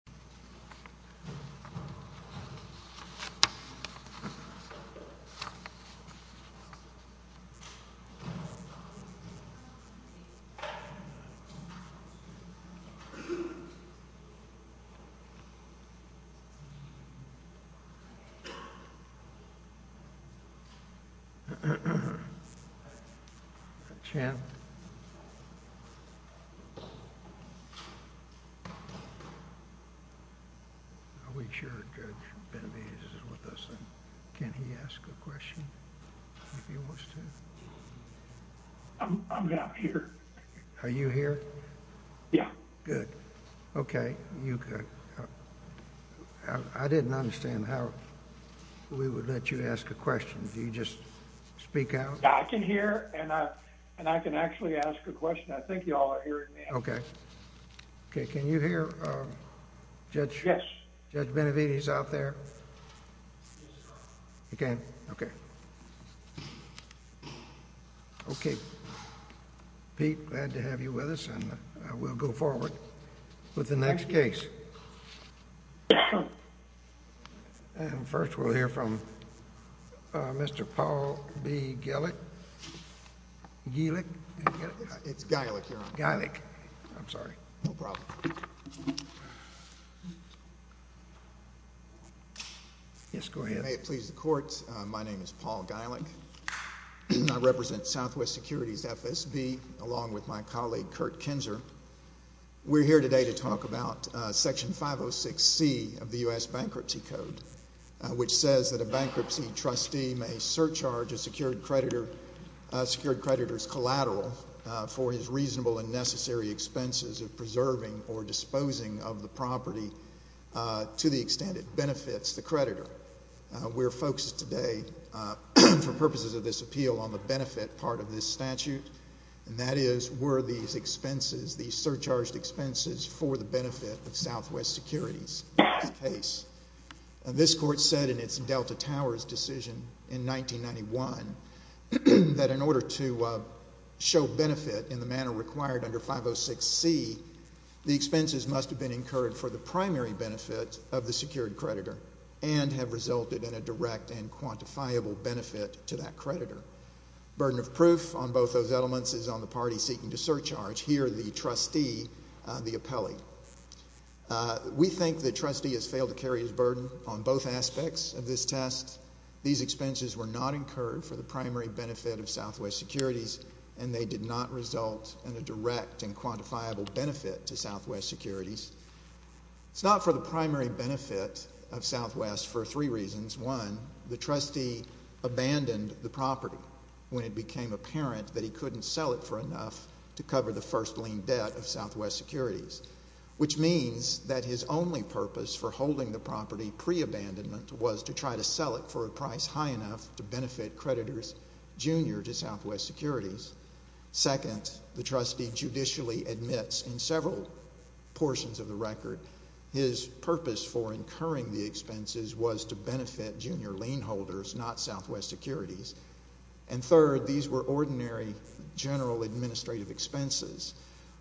The President of the U.S. Bankruptcy Code, which says that a bankruptcy trustee may surcharge a secured creditor's collateral for his reasonable and necessary expenses of preserving or disposing of the property to the extent it benefits the creditor. We're focused today, for purposes of this appeal, on the benefit part of this statute, and that is, were these expenses, these surcharged expenses, for the benefit of Southwest Securities the case? This Court said in its Delta Towers decision in 1991 that in order to show benefit in the manner required under 506C, the expenses must have been incurred for the primary benefit of the secured creditor and have resulted in a direct and quantifiable benefit to that creditor. The burden of proof on both those elements is on the party seeking to surcharge, here the trustee, the appellee. We think the trustee has failed to carry his burden on both aspects of this test. These expenses were not incurred for the primary benefit of Southwest Securities, and they did not result in a direct and quantifiable benefit to Southwest Securities. It's not for the primary benefit of Southwest for three reasons. One, the trustee abandoned the property when it became apparent that he couldn't sell it for enough to cover the first lien debt of Southwest Securities, which means that his only purpose for holding the property pre-abandonment was to try to sell it for a price high enough to benefit creditors junior to Southwest Securities. Second, the trustee judicially admits in several portions of the record his purpose for incurring the expenses was to benefit junior lien holders, not Southwest Securities. And third, these were ordinary general administrative expenses,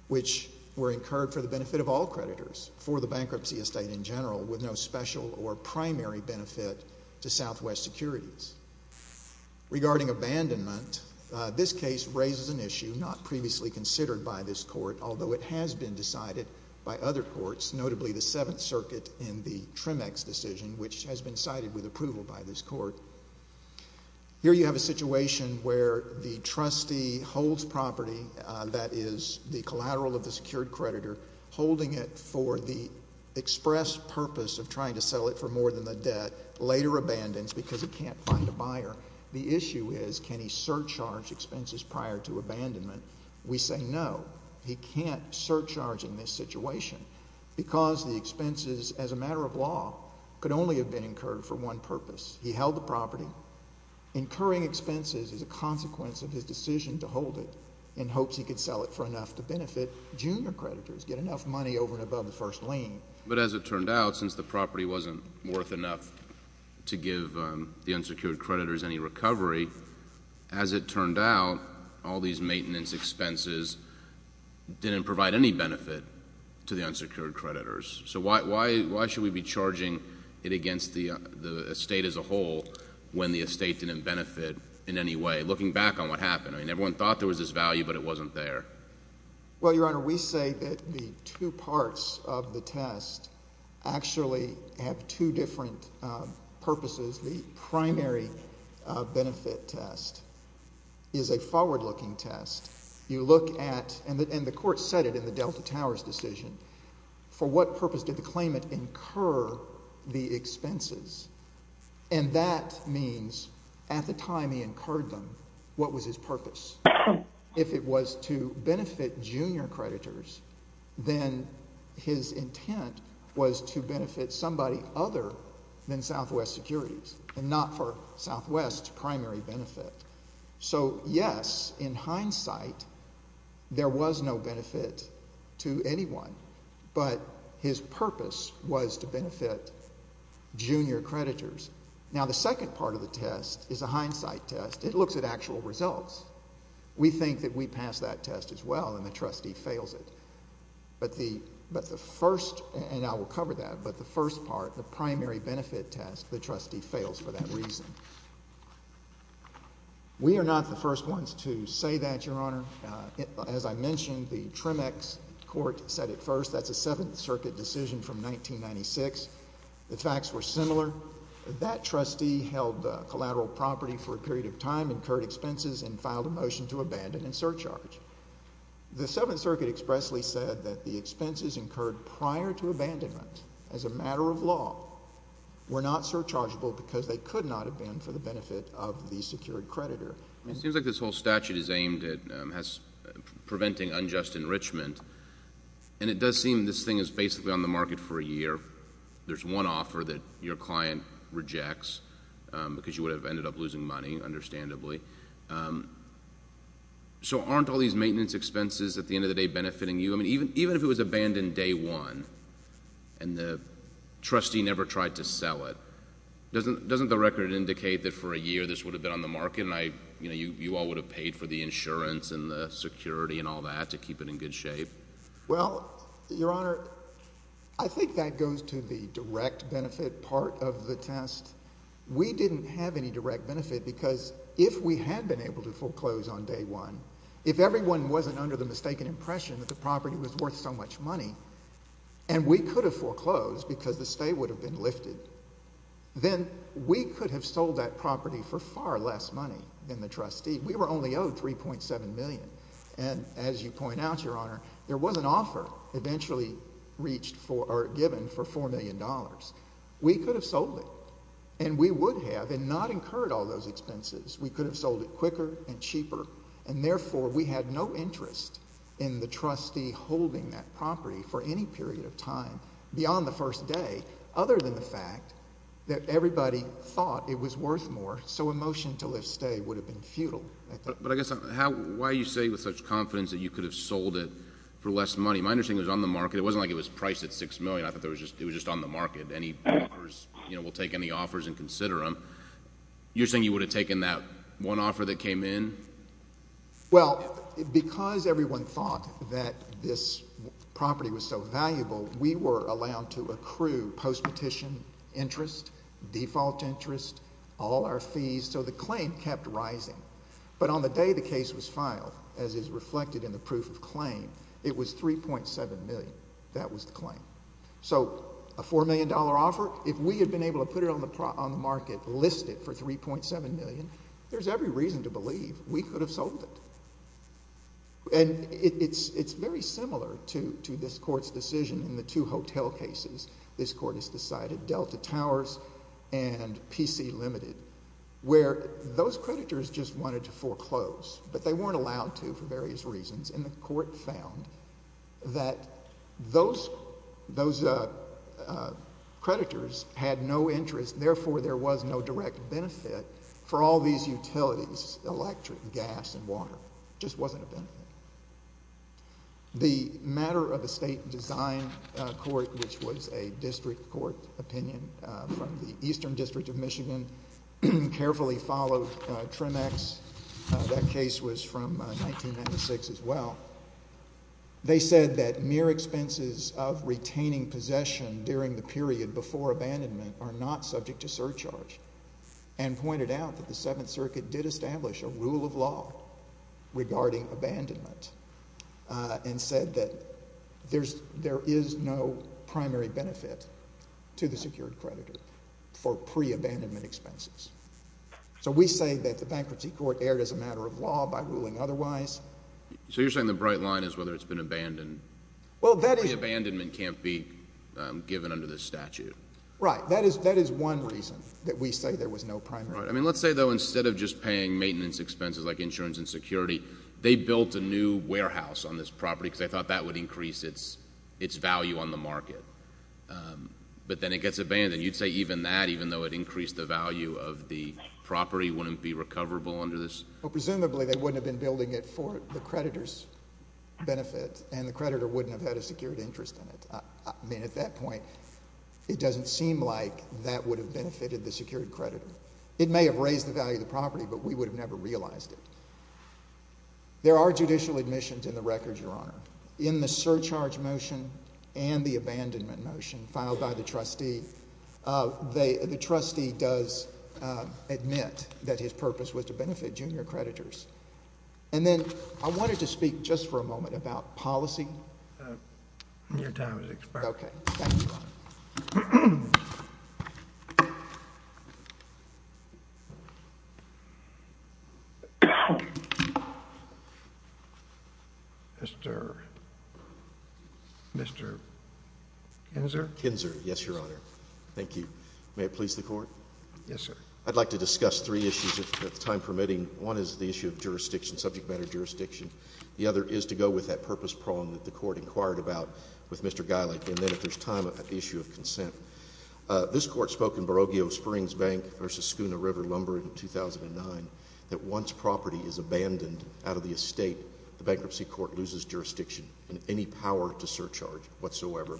which were incurred for the benefit of all creditors, for the bankruptcy estate in general, with no special or primary benefit to Southwest Securities. Regarding abandonment, this case raises an issue not previously considered by this Court, although it has been decided by other courts, notably the Seventh Circuit in the Tremex decision, which has been cited with approval by this Court. Here you have a situation where the trustee holds property that is the collateral of the secured creditor, holding it for the express purpose of trying to sell it for more than the debt, later abandons because he can't find a buyer. The issue is, can he surcharge expenses prior to abandonment? We say no, he can't surcharge in this situation because the expenses, as a matter of law, could only have been incurred for one purpose. He held the property. Incurring expenses is a consequence of his decision to hold it in hopes he could sell it for enough to benefit junior creditors, get enough money over and above the first lien. But as it turned out, since the property wasn't worth enough to give the unsecured creditors any recovery, as it turned out, all these maintenance expenses didn't provide any benefit to the unsecured creditors. So why should we be charging it against the estate as a whole when the estate didn't benefit in any way? Looking back on what happened, I mean, everyone thought there was this value, but it wasn't there. Well, Your Honor, we say that the two parts of the test actually have two different purposes. The primary benefit test is a forward-looking test. You look at, and the court said it in the Delta Towers decision, for what purpose did the claimant incur the expenses? And that means at the time he incurred them, what was his purpose? If it was to benefit junior creditors, then his intent was to benefit somebody other than Southwest Securities and not for Southwest's primary benefit. So yes, in hindsight, there was no benefit to anyone, but his purpose was to benefit junior creditors. Now the second part of the test is a hindsight test. It looks at actual results. We think that we passed that test as well, and the trustee fails it. But the first, and I will cover that, but the first part, the primary benefit test, the trustee fails for that reason. We are not the first ones to say that, Your Honor. As I mentioned, the Tremex court said it first. That's a Seventh Circuit decision from 1996. The facts were similar. That trustee held collateral property for a period of time, incurred expenses, and filed a motion to abandon and surcharge. The Seventh Circuit expressly said that the expenses incurred prior to abandonment as a matter of law were not surchargeable because they could not have been for the benefit of the secured creditor. It seems like this whole statute is aimed at preventing unjust enrichment, and it does seem this thing is basically on the market for a year. There's one offer that your client rejects because you would have ended up losing money, understandably. So aren't all these maintenance expenses at the end of the day benefiting you? I mean, even if it was abandoned day one, and the trustee never tried to sell it, doesn't the record indicate that for a year this would have been on the market, and I, you know, you all would have paid for the insurance and the security and all that to keep it in good shape? Well, Your Honor, I think that goes to the direct benefit part of the test. We didn't have any direct benefit because if we had been able to foreclose on day one, if everyone wasn't under the mistaken impression that the property was worth so much money, and we could have foreclosed because the stay would have been lifted, then we could have sold that property for far less money than the trustee. We were only owed $3.7 million, and as you point out, Your Honor, there was an offer eventually reached for or given for $4 million. We could have sold it, and we would have, and not incurred all those expenses. We could have sold it quicker and cheaper, and therefore, we had no interest in the trustee holding that property for any period of time beyond the first day, other than the fact that everybody thought it was worth more, so a motion to lift stay would have been futile. But I guess, why are you saying with such confidence that you could have sold it for less money? My understanding is on the market. It wasn't like it was priced at $6 million. I thought it was just on the market. Any borrowers, you know, will take any offers and consider them. You're saying you would have taken that one offer that came in? Well, because everyone thought that this property was so valuable, we were allowed to accrue post-petition interest, default interest, all our fees, so the claim kept rising. But on the day the case was filed, as is reflected in the proof of claim, it was $3.7 million. That was the claim. So a $4 million offer, if we had been able to put it on the market, list it for $3.7 million, there's every reason to believe we could have sold it. And it's very similar to this Court's decision in the two hotel cases this Court has decided, Delta Towers and PC Limited, where those creditors just wanted to foreclose, but they weren't allowed to for various reasons, and the Court found that those creditors had no interest, therefore there was no direct benefit for all these utilities, electric, gas, and water. Just wasn't a benefit. The matter of the State Design Court, which was a district court opinion from the Eastern District of Michigan, carefully followed Tremex, that case was from 1996 as well. They said that mere expenses of retaining possession during the period before abandonment are not subject to surcharge, and pointed out that the Seventh Circuit did establish a rule of law regarding abandonment, and said that there is no primary benefit to the secured creditor for pre-abandonment expenses. So we say that the Bankruptcy Court erred as a matter of law by ruling otherwise. So you're saying the bright line is whether it's been abandoned? Well that is — Pre-abandonment can't be given under this statute. Right. That is one reason that we say there was no primary benefit. Right. I mean, let's say, though, instead of just paying maintenance expenses like insurance and security, they built a new warehouse on this property because they thought that would increase its value on the market. But then it gets abandoned. You'd say even that, even though it increased the value of the property, wouldn't be recoverable under this? Well, presumably, they wouldn't have been building it for the creditor's benefit, and the creditor wouldn't have had a secured interest in it. I mean, at that point, it doesn't seem like that would have benefited the secured creditor. It may have raised the value of the property, but we would have never realized it. There are judicial admissions in the record, Your Honor. In the surcharge motion and the abandonment motion filed by the trustee, the trustee does admit that his purpose was to benefit junior creditors. And then I wanted to speak just for a moment about policy. Your time is expired. Okay. Thank you, Your Honor. Mr. Kinzer? Kinzer. Yes, Your Honor. Thank you. May it please the Court? Yes, sir. I'd like to discuss three issues, if time permitting. One is the issue of jurisdiction, subject matter jurisdiction. The other is to go with that purpose prong that the Court inquired about with Mr. Geylik. And then if there's time, the issue of consent. This Court spoke in Barogio Springs Bank v. Schooner River Lumber in 2009 that once property is abandoned out of the estate, the bankruptcy court loses jurisdiction and any power to surcharge whatsoever.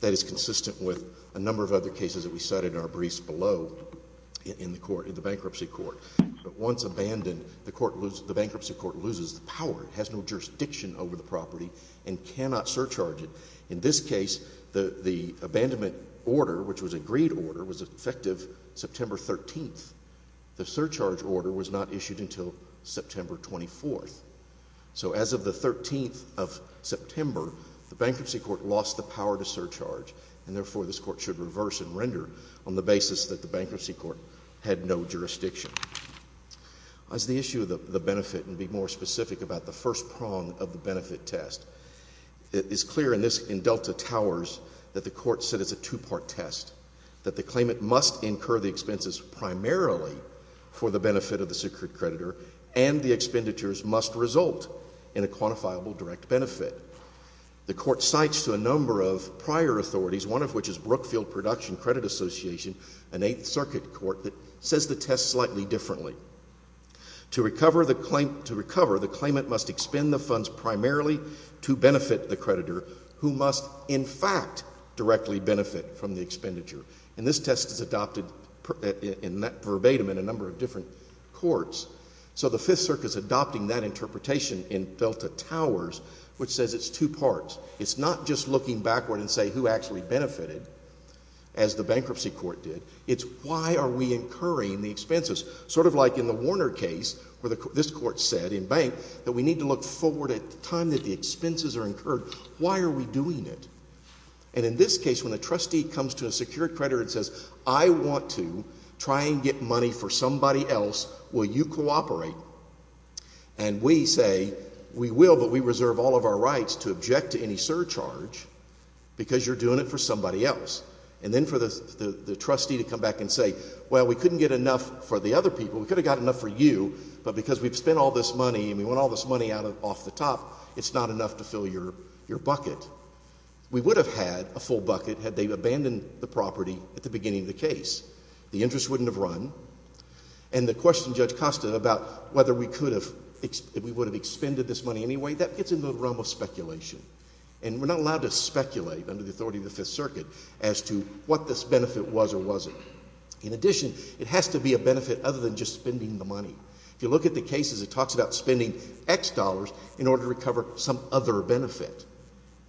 That is consistent with a number of other cases that we cited in our briefs below in the bankruptcy court. But once abandoned, the bankruptcy court loses the power. It has no jurisdiction over the property and cannot surcharge it. In this case, the abandonment order, which was an agreed order, was effective September 13th. The surcharge order was not issued until September 24th. So as of the 13th of September, the bankruptcy court lost the power to surcharge, and therefore this Court should reverse and render on the basis that the bankruptcy court had no jurisdiction. As the issue of the benefit, and to be more specific about the first prong of the benefit test, it is clear in this, in Delta Towers, that the Court said it's a two-part test, that the claimant must incur the expenses primarily for the benefit of the secret creditor, and the expenditures must result in a quantifiable direct benefit. The Court cites to a number of prior authorities, one of which is Brookfield Production Credit Association, an Eighth Circuit court, that says the test slightly differently. To recover the claimant must expend the funds primarily to benefit the creditor, who must in fact directly benefit from the expenditure. And this test is adopted verbatim in a number of different courts. So the Fifth Circuit is adopting that interpretation in Delta Towers, which says it's two parts. It's not just looking backward and saying who actually benefited, as the bankruptcy court did. It's why are we incurring the expenses? Sort of like in the Warner case, where this Court said, in Bank, that we need to look forward at the time that the expenses are incurred. Why are we doing it? And in this case, when a trustee comes to a secured creditor and says, I want to try and get money for somebody else, will you cooperate? And we say, we will, but we reserve all of our rights to object to any surcharge, because you're doing it for somebody else. And then for the trustee to come back and say, well, we couldn't get enough for the other people. We could have got enough for you, but because we've spent all this money and we want all this money off the top, it's not enough to fill your bucket. We would have had a full bucket had they abandoned the property at the beginning of the case. The interest wouldn't have run. And the question Judge Costa about whether we would have expended this money anyway, that gets into the realm of speculation. And we're not allowed to speculate under the authority of the Fifth Circuit as to what this benefit was or wasn't. In addition, it has to be a benefit other than just spending the money. If you look at the cases, it talks about spending X dollars in order to recover some other benefit.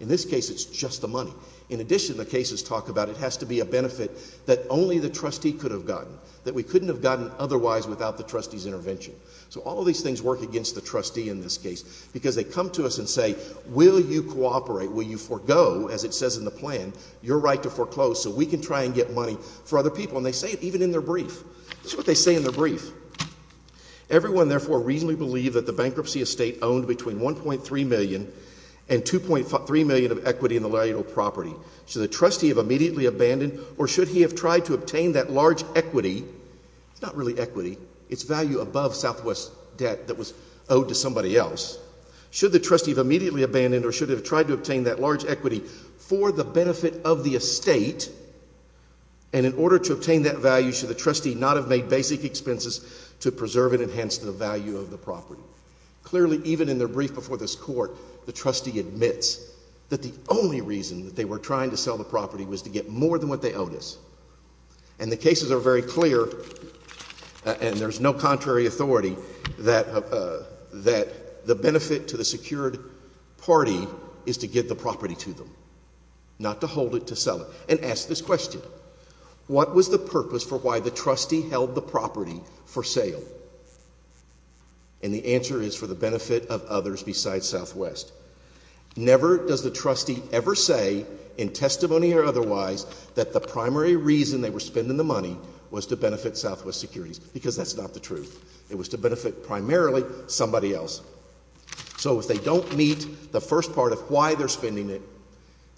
In this case, it's just the money. In addition, the cases talk about it has to be a benefit that only the trustee could have gotten, that we couldn't have gotten otherwise without the trustee's intervention. So all of these things work against the trustee in this case, because they come to us and say, will you cooperate, will you forego, as it says in the plan, your right to foreclose so we can try and get money for other people. And they say it even in their brief. This is what they say in their brief. Everyone, therefore, reasonably believed that the bankruptcy estate owned between $1.3 million and $2.3 million of equity in the lariatal property. Should the trustee have immediately abandoned or should he have tried to obtain that large equity, it's not really equity, it's value above Southwest debt that was owed to somebody else. Should the trustee have immediately abandoned or should he have tried to obtain that large equity for the benefit of the estate, and in order to obtain that value, should the trustee not have made basic expenses to preserve and enhance the value of the property? Clearly, even in their brief before this court, the trustee admits that the only reason that they were trying to sell the property was to get more than what they owed us. And the cases are very clear, and there's no contrary authority, that the benefit to the secured party is to get the property to them, not to hold it to sell it. And ask this question, what was the purpose for why the trustee held the property for sale? And the answer is for the benefit of others besides Southwest. Never does the trustee ever say, in testimony or otherwise, that the primary reason they were spending the money was to benefit Southwest securities, because that's not the truth. It was to benefit primarily somebody else. So if they don't meet the first part of why they're spending it,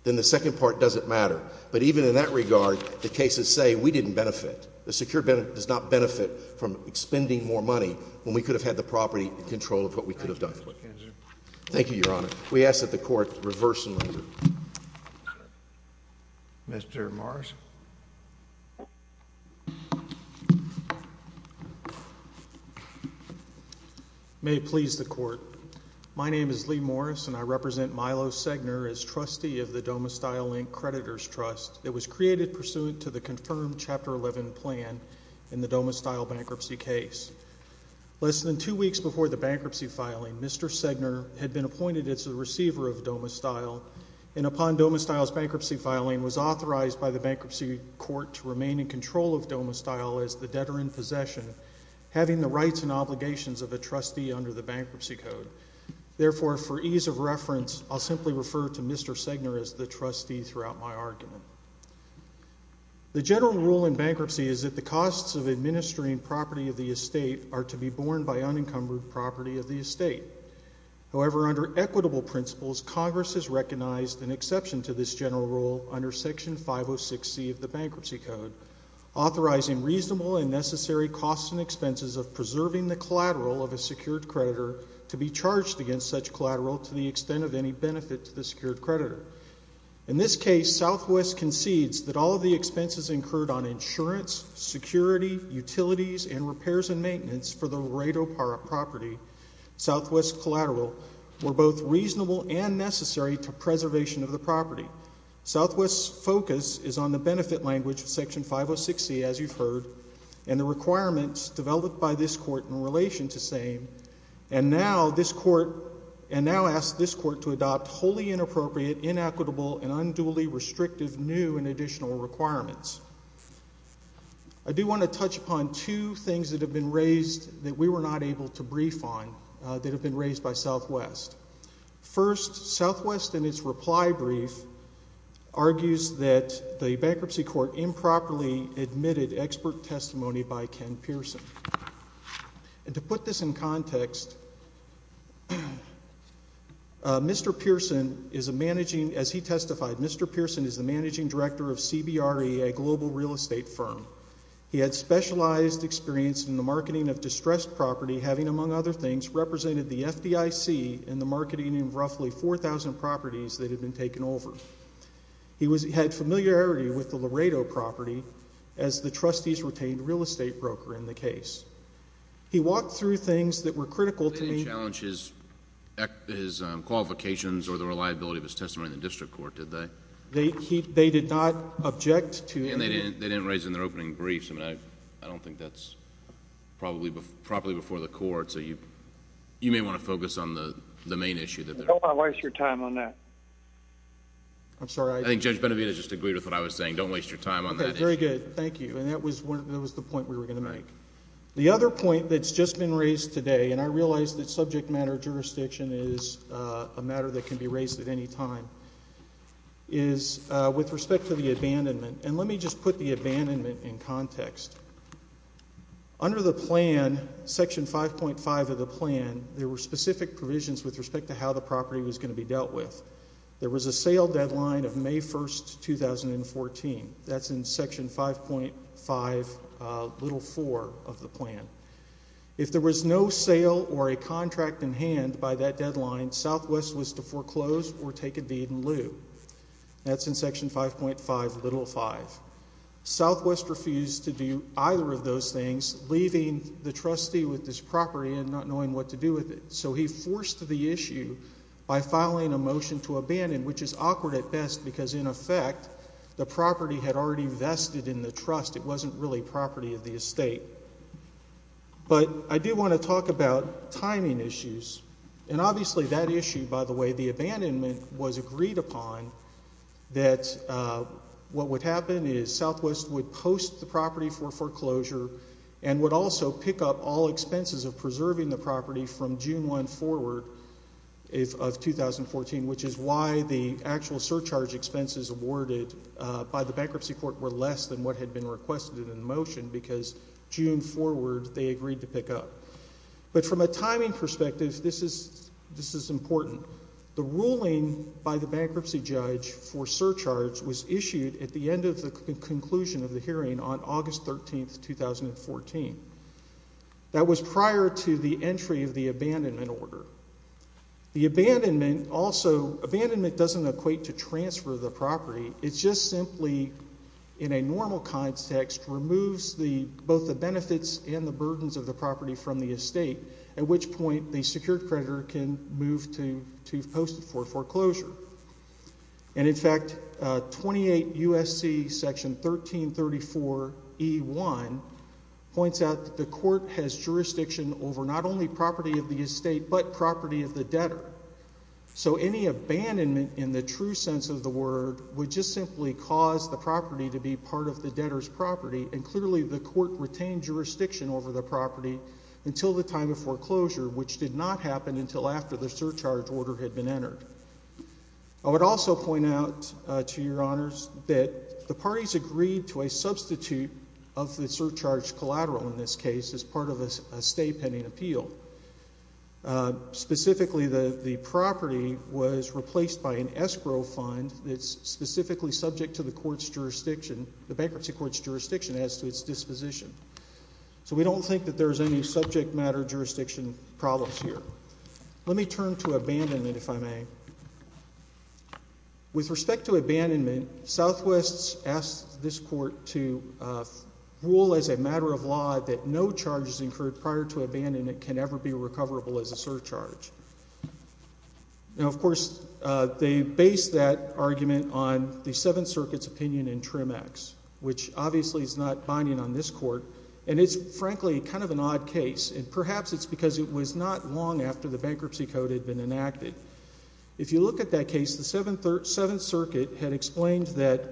then the second part doesn't matter. But even in that regard, the cases say we didn't benefit. The secured benefit does not benefit from spending more money when we could have had the property in control of what we could have done. Thank you, Your Honor. We ask that the Court reverse the measure. Mr. Morris. May it please the Court. My name is Lee Morris, and I represent Milo Segner as trustee of the Domestyle, Inc. Creditors Trust that was created pursuant to the confirmed Chapter 11 plan in the Domestyle bankruptcy case. Less than two weeks before the bankruptcy filing, Mr. Segner had been appointed as the receiver of Domestyle, and upon Domestyle's bankruptcy filing was authorized by the bankruptcy court to remain in control of Domestyle as the debtor in possession, having the rights and obligations of a trustee under the bankruptcy code. Therefore, for ease of reference, I'll simply refer to Mr. Segner as the trustee throughout my argument. The general rule in bankruptcy is that the costs of administering property of the estate are to be borne by unencumbered property of the estate. However, under equitable principles, Congress has recognized an exception to this general rule under Section 506C of the bankruptcy code, authorizing reasonable and necessary costs and expenses of preserving the collateral of a secured creditor to be charged against such collateral to the extent of any benefit to the secured creditor. In this case, Southwest concedes that all of the expenses incurred on insurance, security, utilities, and repairs and maintenance for the Redo property, Southwest Collateral, were both reasonable and necessary to preservation of the property. Southwest's focus is on the benefit language of Section 506C, as you've heard, and the requirements developed by this court in relation to same, and now this court, and now asks this court to adopt wholly inappropriate, inequitable, and unduly restrictive new and additional requirements. I do want to touch upon two things that have been raised that we were not able to brief on that have been raised by Southwest. First, Southwest in its reply brief argues that the bankruptcy court improperly admitted expert testimony by Ken Pearson. And to put this in context, Mr. Pearson is a managing, as he testified, Mr. Pearson is the managing director of CBRE, a global real estate firm. He had specialized experience in the marketing of distressed property, having, among other things, represented the FDIC in the marketing of roughly 4,000 properties that had been taken over. He had familiarity with the Laredo property as the trustee's retained real estate broker in the case. He walked through things that were critical to the- They didn't challenge his qualifications or the reliability of his testimony in the district court, did they? They did not object to- And they didn't raise it in their opening briefs. I mean, I don't think that's properly before the court, so you may want to focus on the main issue. Don't want to waste your time on that. I'm sorry, I- I think Judge Benavida just agreed with what I was saying. Don't waste your time on that issue. Okay, very good. Thank you. And that was the point we were going to make. The other point that's just been raised today, and I realize that subject matter jurisdiction is a matter that can be raised at any time, is with respect to the abandonment. And let me just put the abandonment in context. Under the plan, Section 5.5 of the plan, there were specific provisions with respect to how the property was going to be dealt with. There was a sale deadline of May 1, 2014. That's in Section 5.5, Little 4 of the plan. If there was no sale or a contract in hand by that deadline, Southwest was to foreclose or take a deed in lieu. That's in Section 5.5, Little 5. Southwest refused to do either of those things, leaving the trustee with this property and not knowing what to do with it. So he forced the issue by filing a motion to abandon, which is awkward at best because, in effect, the property had already vested in the trust. It wasn't really property of the estate. But I do want to talk about timing issues. And obviously that issue, by the way, the abandonment, was agreed upon that what would happen is Southwest would post the property for foreclosure and would also pick up all expenses of preserving the property from June 1 forward of 2014, which is why the actual surcharge expenses awarded by the bankruptcy court were less than what had been requested in the motion because June forward they agreed to pick up. But from a timing perspective, this is important. The ruling by the bankruptcy judge for surcharge was issued at the end of the conclusion of the hearing on August 13, 2014. That was prior to the entry of the abandonment order. The abandonment also, abandonment doesn't equate to transfer the property. It's just simply, in a normal context, removes both the benefits and the burdens of the property from the estate, at which point the secured creditor can move to post it for foreclosure. And, in fact, 28 U.S.C. Section 1334E1 points out that the court has jurisdiction over not only property of the estate but property of the debtor. So any abandonment in the true sense of the word would just simply cause the property to be part of the debtor's property, and clearly the court retained jurisdiction over the property until the time of foreclosure, which did not happen until after the surcharge order had been entered. I would also point out to your honors that the parties agreed to a substitute of the surcharge collateral in this case as part of a stay pending appeal. Specifically, the property was replaced by an escrow fund that's specifically subject to the court's jurisdiction, the bankruptcy court's jurisdiction as to its disposition. So we don't think that there's any subject matter jurisdiction problems here. Let me turn to abandonment, if I may. With respect to abandonment, Southwest asked this court to rule as a matter of law that no charges incurred prior to abandonment can ever be recoverable as a surcharge. Now, of course, they based that argument on the Seventh Circuit's opinion in Trim X, which obviously is not binding on this court, and it's frankly kind of an odd case, and perhaps it's because it was not long after the bankruptcy code had been enacted. If you look at that case, the Seventh Circuit had explained that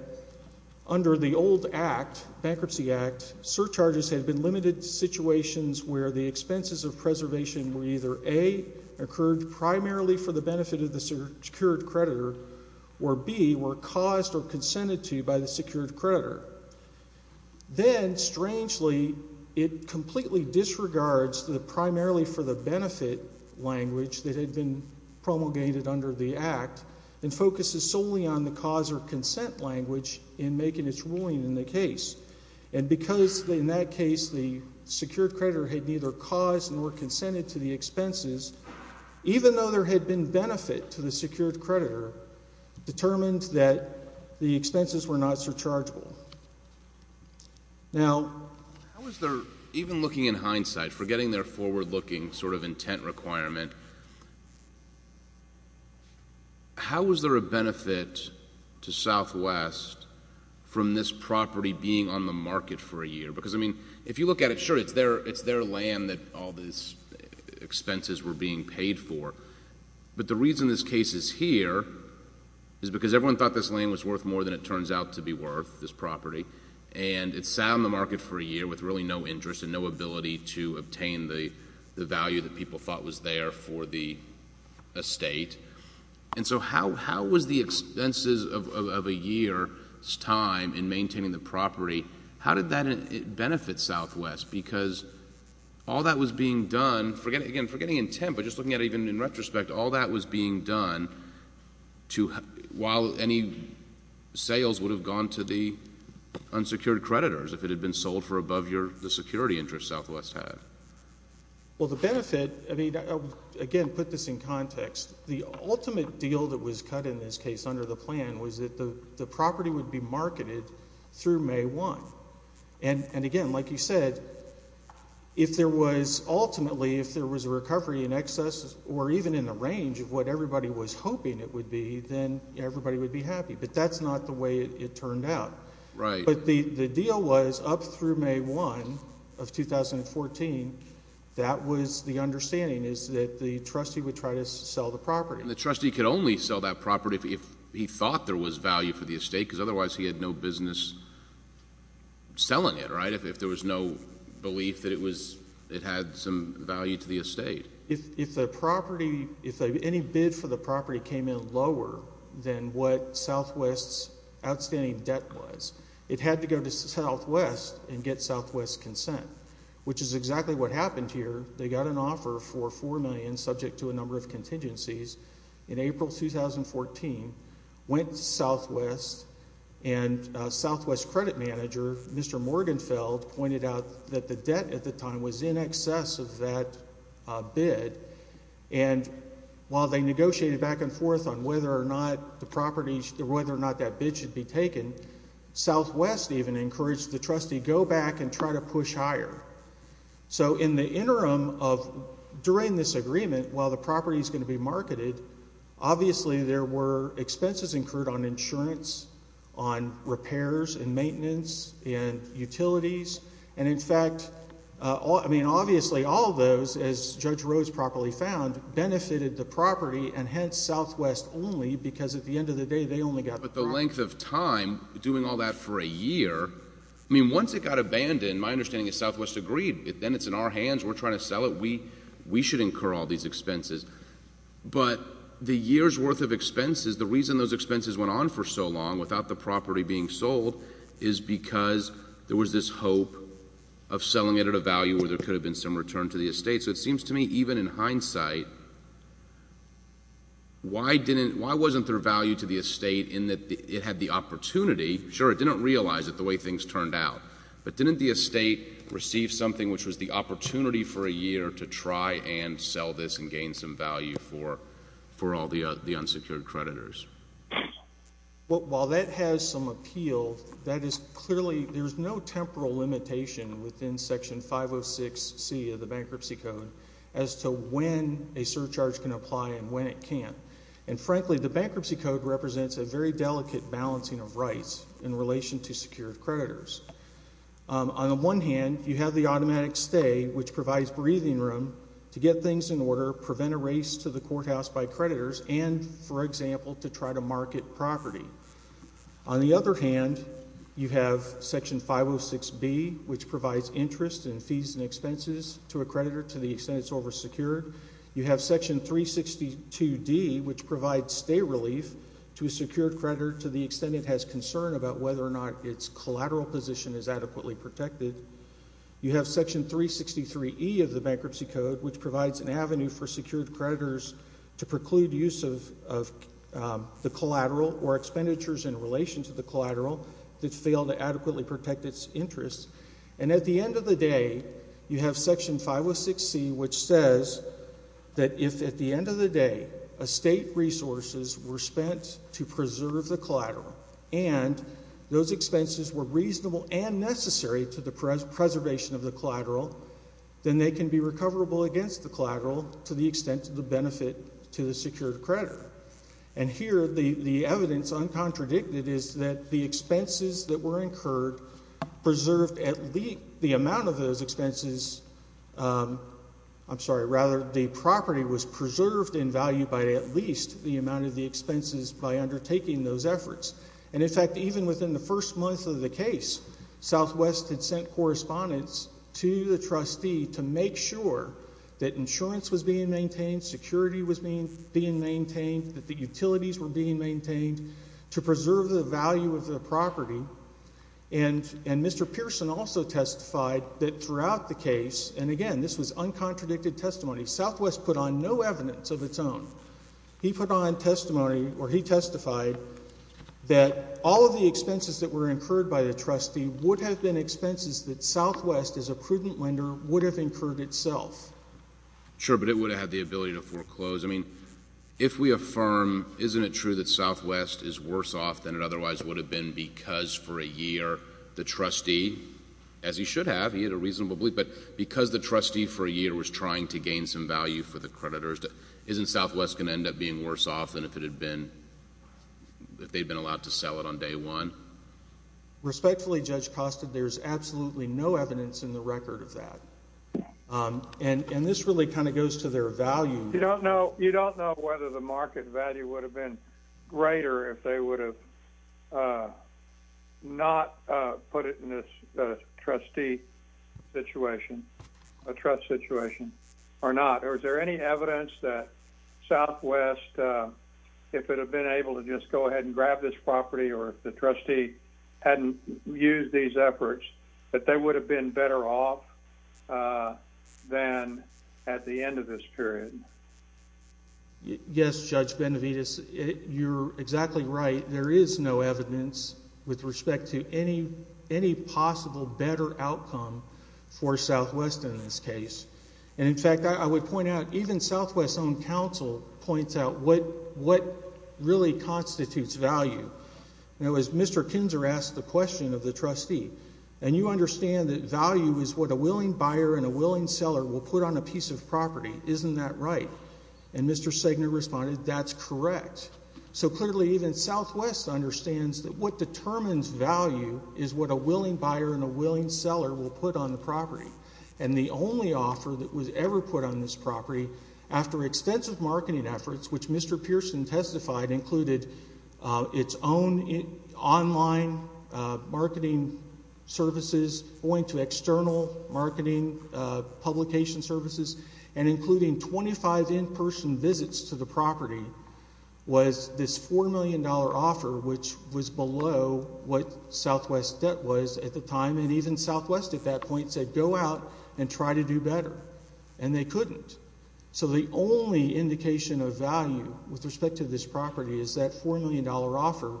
under the old act, bankruptcy act, surcharges had been limited to situations where the expenses of preservation were either A, incurred primarily for the benefit of the secured creditor, or B, were caused or consented to by the secured creditor. Then, strangely, it completely disregards the primarily for the benefit language that had been promulgated under the act and focuses solely on the cause or consent language in making its ruling in the case. And because in that case the secured creditor had neither caused nor consented to the expenses, even though there had been benefit to the secured creditor, it determined that the expenses were not surchargeable. Now, how is there, even looking in hindsight, forgetting their forward-looking sort of intent requirement, how is there a benefit to Southwest from this property being on the market for a year? Because, I mean, if you look at it, sure, it's their land that all these expenses were being paid for. But the reason this case is here is because everyone thought this land was worth more than it turns out to be worth, this property. And it sat on the market for a year with really no interest and no ability to obtain the value that people thought was there for the estate. And so how was the expenses of a year's time in maintaining the property, how did that benefit Southwest? Because all that was being done, again, forgetting intent, but just looking at it even in retrospect, all that was being done while any sales would have gone to the unsecured creditors if it had been sold for above the security interest Southwest had. Well, the benefit, I mean, again, put this in context. The ultimate deal that was cut in this case under the plan was that the property would be marketed through May 1. And, again, like you said, if there was ultimately, if there was a recovery in excess or even in the range of what everybody was hoping it would be, then everybody would be happy. But that's not the way it turned out. Right. But the deal was up through May 1 of 2014, that was the understanding, is that the trustee would try to sell the property. And the trustee could only sell that property if he thought there was value for the estate because otherwise he had no business selling it, right, if there was no belief that it had some value to the estate. If the property, if any bid for the property came in lower than what Southwest's outstanding debt was, it had to go to Southwest and get Southwest's consent, which is exactly what happened here. They got an offer for $4 million subject to a number of contingencies in April 2014, went to Southwest, and Southwest's credit manager, Mr. Morgenfeld, pointed out that the debt at the time was in excess of that bid. And while they negotiated back and forth on whether or not the property, whether or not that bid should be taken, Southwest even encouraged the trustee to go back and try to push higher. So in the interim of during this agreement, while the property is going to be marketed, obviously there were expenses incurred on insurance, on repairs and maintenance and utilities. And in fact, I mean, obviously all those, as Judge Rhodes properly found, benefited the property, and hence Southwest only because at the end of the day they only got the property. But the length of time, doing all that for a year, I mean, once it got abandoned, my understanding is Southwest agreed. Then it's in our hands, we're trying to sell it, we should incur all these expenses. But the year's worth of expenses, the reason those expenses went on for so long without the property being sold is because there was this hope of selling it at a value where there could have been some return to the estate. So it seems to me, even in hindsight, why wasn't there value to the estate in that it had the opportunity? Sure, it didn't realize it the way things turned out. But didn't the estate receive something which was the opportunity for a year to try and sell this and gain some value for all the unsecured creditors? Well, while that has some appeal, that is clearly, there's no temporal limitation within Section 506C of the Bankruptcy Code as to when a surcharge can apply and when it can't. And frankly, the Bankruptcy Code represents a very delicate balancing of rights in relation to secured creditors. On the one hand, you have the automatic stay, which provides breathing room to get things in order, prevent a race to the courthouse by creditors, and, for example, to try to market property. On the other hand, you have Section 506B, which provides interest and fees and expenses to a creditor to the extent it's oversecured. You have Section 362D, which provides stay relief to a secured creditor to the extent it has concern about whether or not its collateral position is adequately protected. You have Section 363E of the Bankruptcy Code, which provides an avenue for secured creditors to preclude use of the collateral or expenditures in relation to the collateral that fail to adequately protect its interest. And at the end of the day, you have Section 506C, which says that if, at the end of the day, estate resources were spent to preserve the collateral and those expenses were reasonable and necessary to the preservation of the collateral, then they can be recoverable against the collateral to the extent to the benefit to the secured creditor. And here, the evidence, uncontradicted, is that the expenses that were incurred preserved at least the amount of those expenses. I'm sorry. Rather, the property was preserved in value by at least the amount of the expenses by undertaking those efforts. And, in fact, even within the first month of the case, Southwest had sent correspondence to the trustee to make sure that insurance was being maintained, security was being maintained, that the utilities were being maintained to preserve the value of the property. And Mr. Pearson also testified that throughout the case, and again, this was uncontradicted testimony, Southwest put on no evidence of its own. He put on testimony, or he testified, that all of the expenses that were incurred by the trustee would have been expenses that Southwest, as a prudent lender, would have incurred itself. Sure, but it would have had the ability to foreclose. I mean, if we affirm, isn't it true that Southwest is worse off than it otherwise would have been because for a year the trustee, as he should have, he had a reasonable belief, but because the trustee for a year was trying to gain some value for the creditors, isn't Southwest going to end up being worse off than if it had been, if they had been allowed to sell it on day one? Respectfully, Judge Costa, there's absolutely no evidence in the record of that. And this really kind of goes to their value. You don't know whether the market value would have been greater if they would have not put it in this trustee situation, a trust situation, or not. Or is there any evidence that Southwest, if it had been able to just go ahead and grab this property, or if the trustee hadn't used these efforts, that they would have been better off than at the end of this period? Yes, Judge Benavides, you're exactly right. There is no evidence with respect to any possible better outcome for Southwest in this case. And, in fact, I would point out, even Southwest's own counsel points out what really constitutes value. Now, as Mr. Kinzer asked the question of the trustee, and you understand that value is what a willing buyer and a willing seller will put on a piece of property. Isn't that right? And Mr. Segner responded, that's correct. So clearly even Southwest understands that what determines value is what a willing buyer and a willing seller will put on the property. And the only offer that was ever put on this property, after extensive marketing efforts, which Mr. Pearson testified included its own online marketing services, going to external marketing publication services, and including 25 in-person visits to the property, was this $4 million offer, which was below what Southwest's debt was at the time. And even Southwest at that point said, go out and try to do better. And they couldn't. So the only indication of value with respect to this property is that $4 million offer.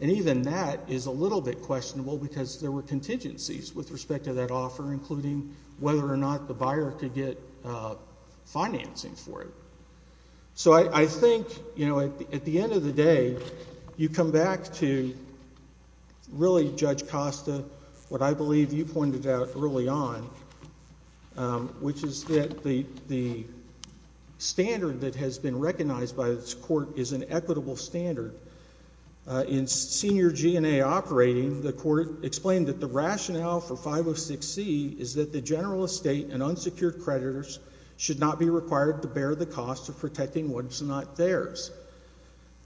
And even that is a little bit questionable because there were contingencies with respect to that offer, including whether or not the buyer could get financing for it. So I think, you know, at the end of the day, you come back to really, Judge Costa, what I believe you pointed out early on, which is that the standard that has been recognized by this court is an equitable standard. In senior G&A operating, the court explained that the rationale for 506C is that the general estate and unsecured creditors should not be required to bear the cost of protecting what is not theirs.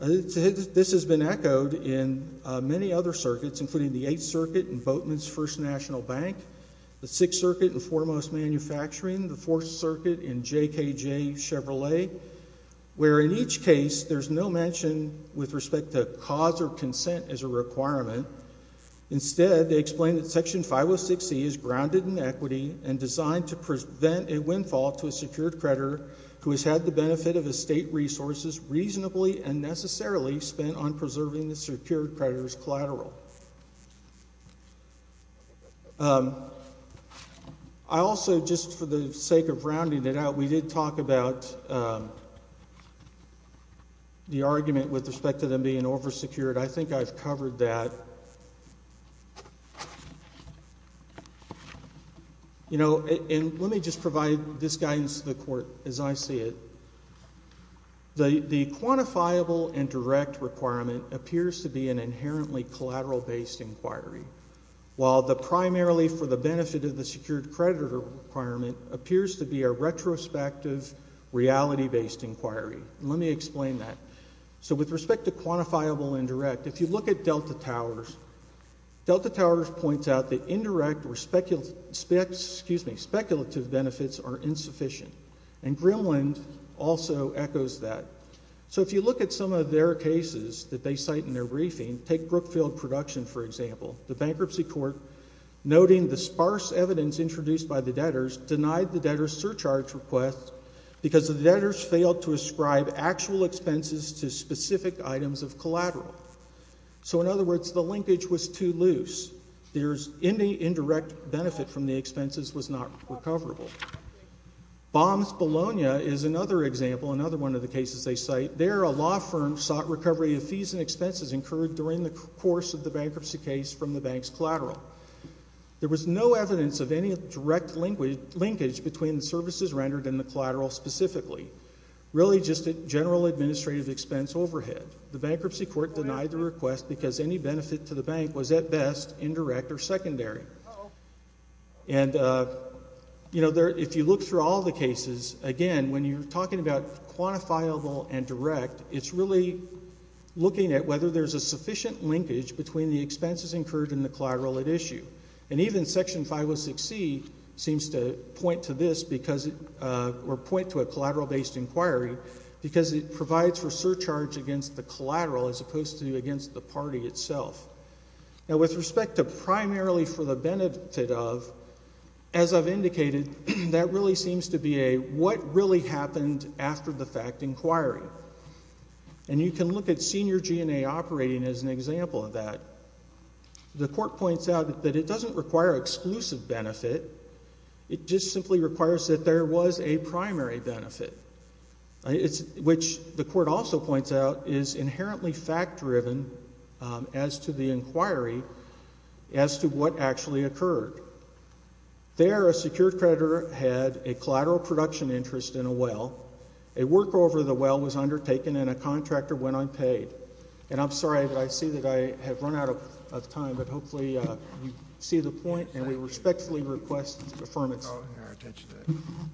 This has been echoed in many other circuits, including the Eighth Circuit in Boatman's First National Bank, the Sixth Circuit in Foremost Manufacturing, the Fourth Circuit in JKJ Chevrolet, where in each case there's no mention with respect to cause or consent as a requirement. Instead, they explain that Section 506C is grounded in equity and designed to prevent a windfall to a secured creditor who has had the benefit of estate resources reasonably and necessarily spent on preserving the secured creditor's collateral. I also, just for the sake of rounding it out, we did talk about the argument with respect to them being oversecured. I think I've covered that. You know, and let me just provide this guidance to the court as I see it. The quantifiable indirect requirement appears to be an inherently collateral-based inquiry, while the primarily for the benefit of the secured creditor requirement appears to be a retrospective reality-based inquiry. Let me explain that. So with respect to quantifiable indirect, if you look at Delta Towers, Delta Towers points out that indirect or speculative benefits are insufficient, and Grimland also echoes that. So if you look at some of their cases that they cite in their briefing, take Brookfield Production, for example. The bankruptcy court, noting the sparse evidence introduced by the debtors, denied the debtors' surcharge request because the debtors failed to ascribe actual expenses to specific items of collateral. So in other words, the linkage was too loose. Any indirect benefit from the expenses was not recoverable. Baum's Bologna is another example, another one of the cases they cite. There, a law firm sought recovery of fees and expenses incurred during the course of the bankruptcy case from the bank's collateral. There was no evidence of any direct linkage between the services rendered and the collateral specifically, really just a general administrative expense overhead. The bankruptcy court denied the request because any benefit to the bank was, at best, indirect or secondary. And, you know, if you look through all the cases, again, when you're talking about quantifiable and direct, it's really looking at whether there's a sufficient linkage between the expenses incurred and the collateral at issue. And even Section 506C seems to point to this or point to a collateral-based inquiry because it provides for surcharge against the collateral as opposed to against the party itself. Now, with respect to primarily for the benefit of, as I've indicated, that really seems to be a what really happened after the fact inquiry. And you can look at senior G&A operating as an example of that. The court points out that it doesn't require exclusive benefit. It just simply requires that there was a primary benefit, which the court also points out is inherently fact-driven as to the inquiry as to what actually occurred. There, a secured creditor had a collateral production interest in a well. A work over the well was undertaken and a contractor went unpaid. And I'm sorry, but I see that I have run out of time. But hopefully you see the point, and we respectfully request an affirmation.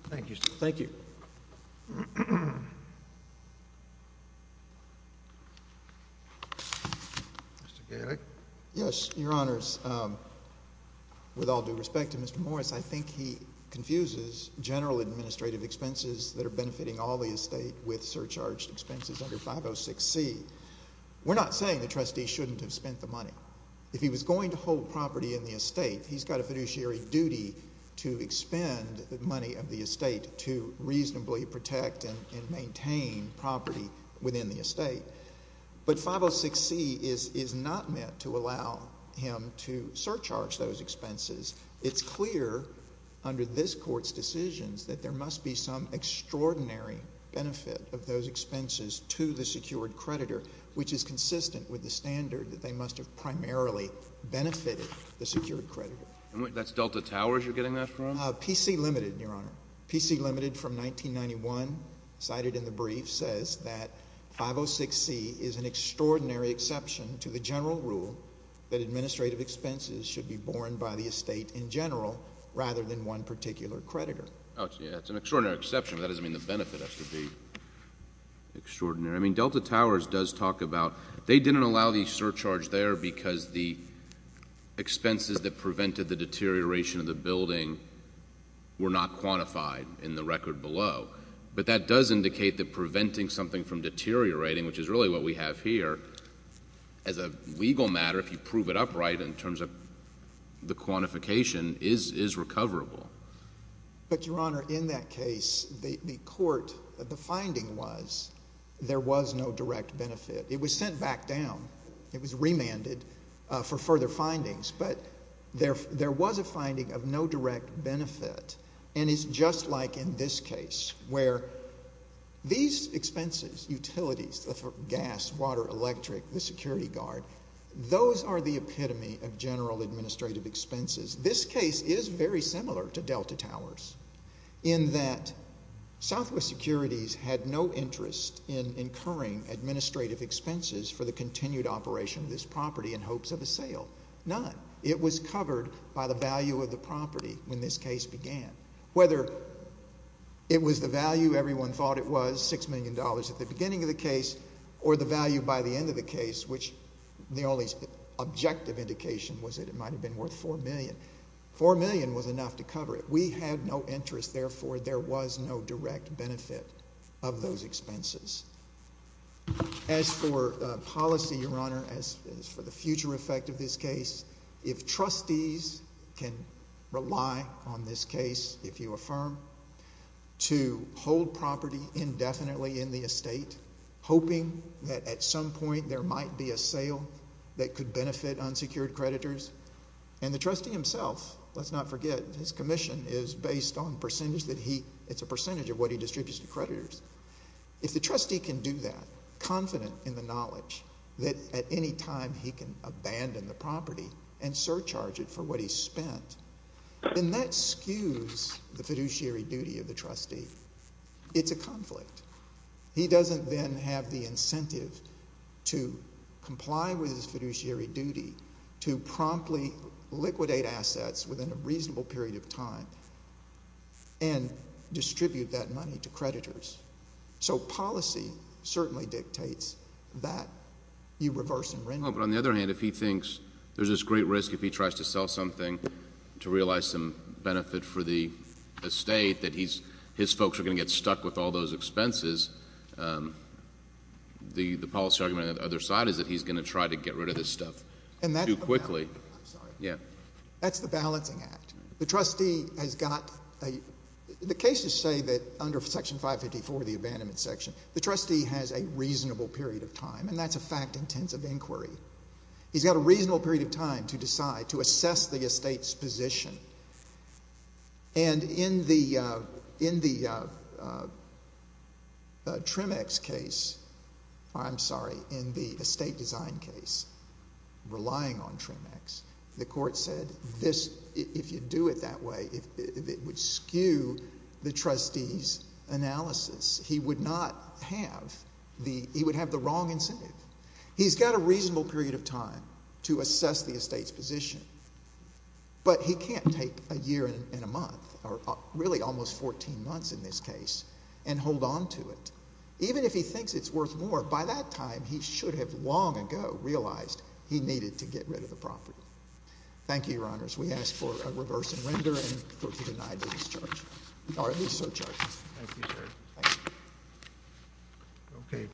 Thank you, sir. Thank you. Mr. Galeck? Yes, Your Honors. With all due respect to Mr. Morris, I think he confuses general administrative expenses that are benefiting all the estate with surcharge expenses under 506C. We're not saying the trustee shouldn't have spent the money. If he was going to hold property in the estate, he's got a fiduciary duty to expend the money of the estate to reasonably protect and maintain property within the estate. But 506C is not meant to allow him to surcharge those expenses. It's clear under this Court's decisions that there must be some extraordinary benefit of those expenses to the secured creditor, which is consistent with the standard that they must have primarily benefited the secured creditor. That's Delta Towers you're getting that from? PC Limited, Your Honor. PC Limited from 1991 cited in the brief says that 506C is an extraordinary exception to the general rule that administrative expenses should be borne by the estate in general rather than one particular creditor. It's an extraordinary exception, but that doesn't mean the benefit has to be extraordinary. I mean, Delta Towers does talk about they didn't allow the surcharge there because the expenses that prevented the deterioration of the building were not quantified in the record below. But that does indicate that preventing something from deteriorating, which is really what we have here, as a legal matter, if you prove it upright in terms of the quantification, is recoverable. But, Your Honor, in that case, the court, the finding was there was no direct benefit. It was sent back down. It was remanded for further findings. But there was a finding of no direct benefit. And it's just like in this case where these expenses, utilities, the gas, water, electric, the security guard, those are the epitome of general administrative expenses. This case is very similar to Delta Towers in that Southwest Securities had no interest in incurring administrative expenses for the continued operation of this property in hopes of a sale. None. It was covered by the value of the property when this case began. Whether it was the value everyone thought it was, $6 million at the beginning of the case, or the value by the end of the case, which the only objective indication was that it might have been worth $4 million. $4 million was enough to cover it. We had no interest. Therefore, there was no direct benefit of those expenses. As for policy, Your Honor, as for the future effect of this case, if trustees can rely on this case, if you affirm, to hold property indefinitely in the estate, hoping that at some point there might be a sale that could benefit unsecured creditors, and the trustee himself, let's not forget, his commission is based on percentage that he, it's a percentage of what he distributes to creditors. If the trustee can do that, confident in the knowledge that at any time he can abandon the property and surcharge it for what he spent, then that skews the fiduciary duty of the trustee. It's a conflict. He doesn't then have the incentive to comply with his fiduciary duty to promptly liquidate assets within a reasonable period of time and distribute that money to creditors. So policy certainly dictates that you reverse and renew. Oh, but on the other hand, if he thinks there's this great risk if he tries to sell something to realize some benefit for the estate that his folks are going to get stuck with all those expenses, the policy argument on the other side is that he's going to try to get rid of this stuff too quickly. And that's the balance. I'm sorry. Yeah. That's the balancing act. The trustee has got a, the cases say that under Section 554, the abandonment section, the trustee has a reasonable period of time, and that's a fact-intensive inquiry. He's got a reasonable period of time to decide, to assess the estate's position. And in the Tremex case, I'm sorry, in the estate design case, relying on Tremex, the court said this, if you do it that way, it would skew the trustee's analysis. He would not have the, he would have the wrong incentive. He's got a reasonable period of time to assess the estate's position, but he can't take a year and a month, or really almost 14 months in this case, and hold on to it. Even if he thinks it's worth more, by that time he should have long ago realized he needed to get rid of the property. Thank you, Your Honors. We ask for a reversing render and for you to deny that he's charged, or at least so charged. Thank you, sir. Thank you.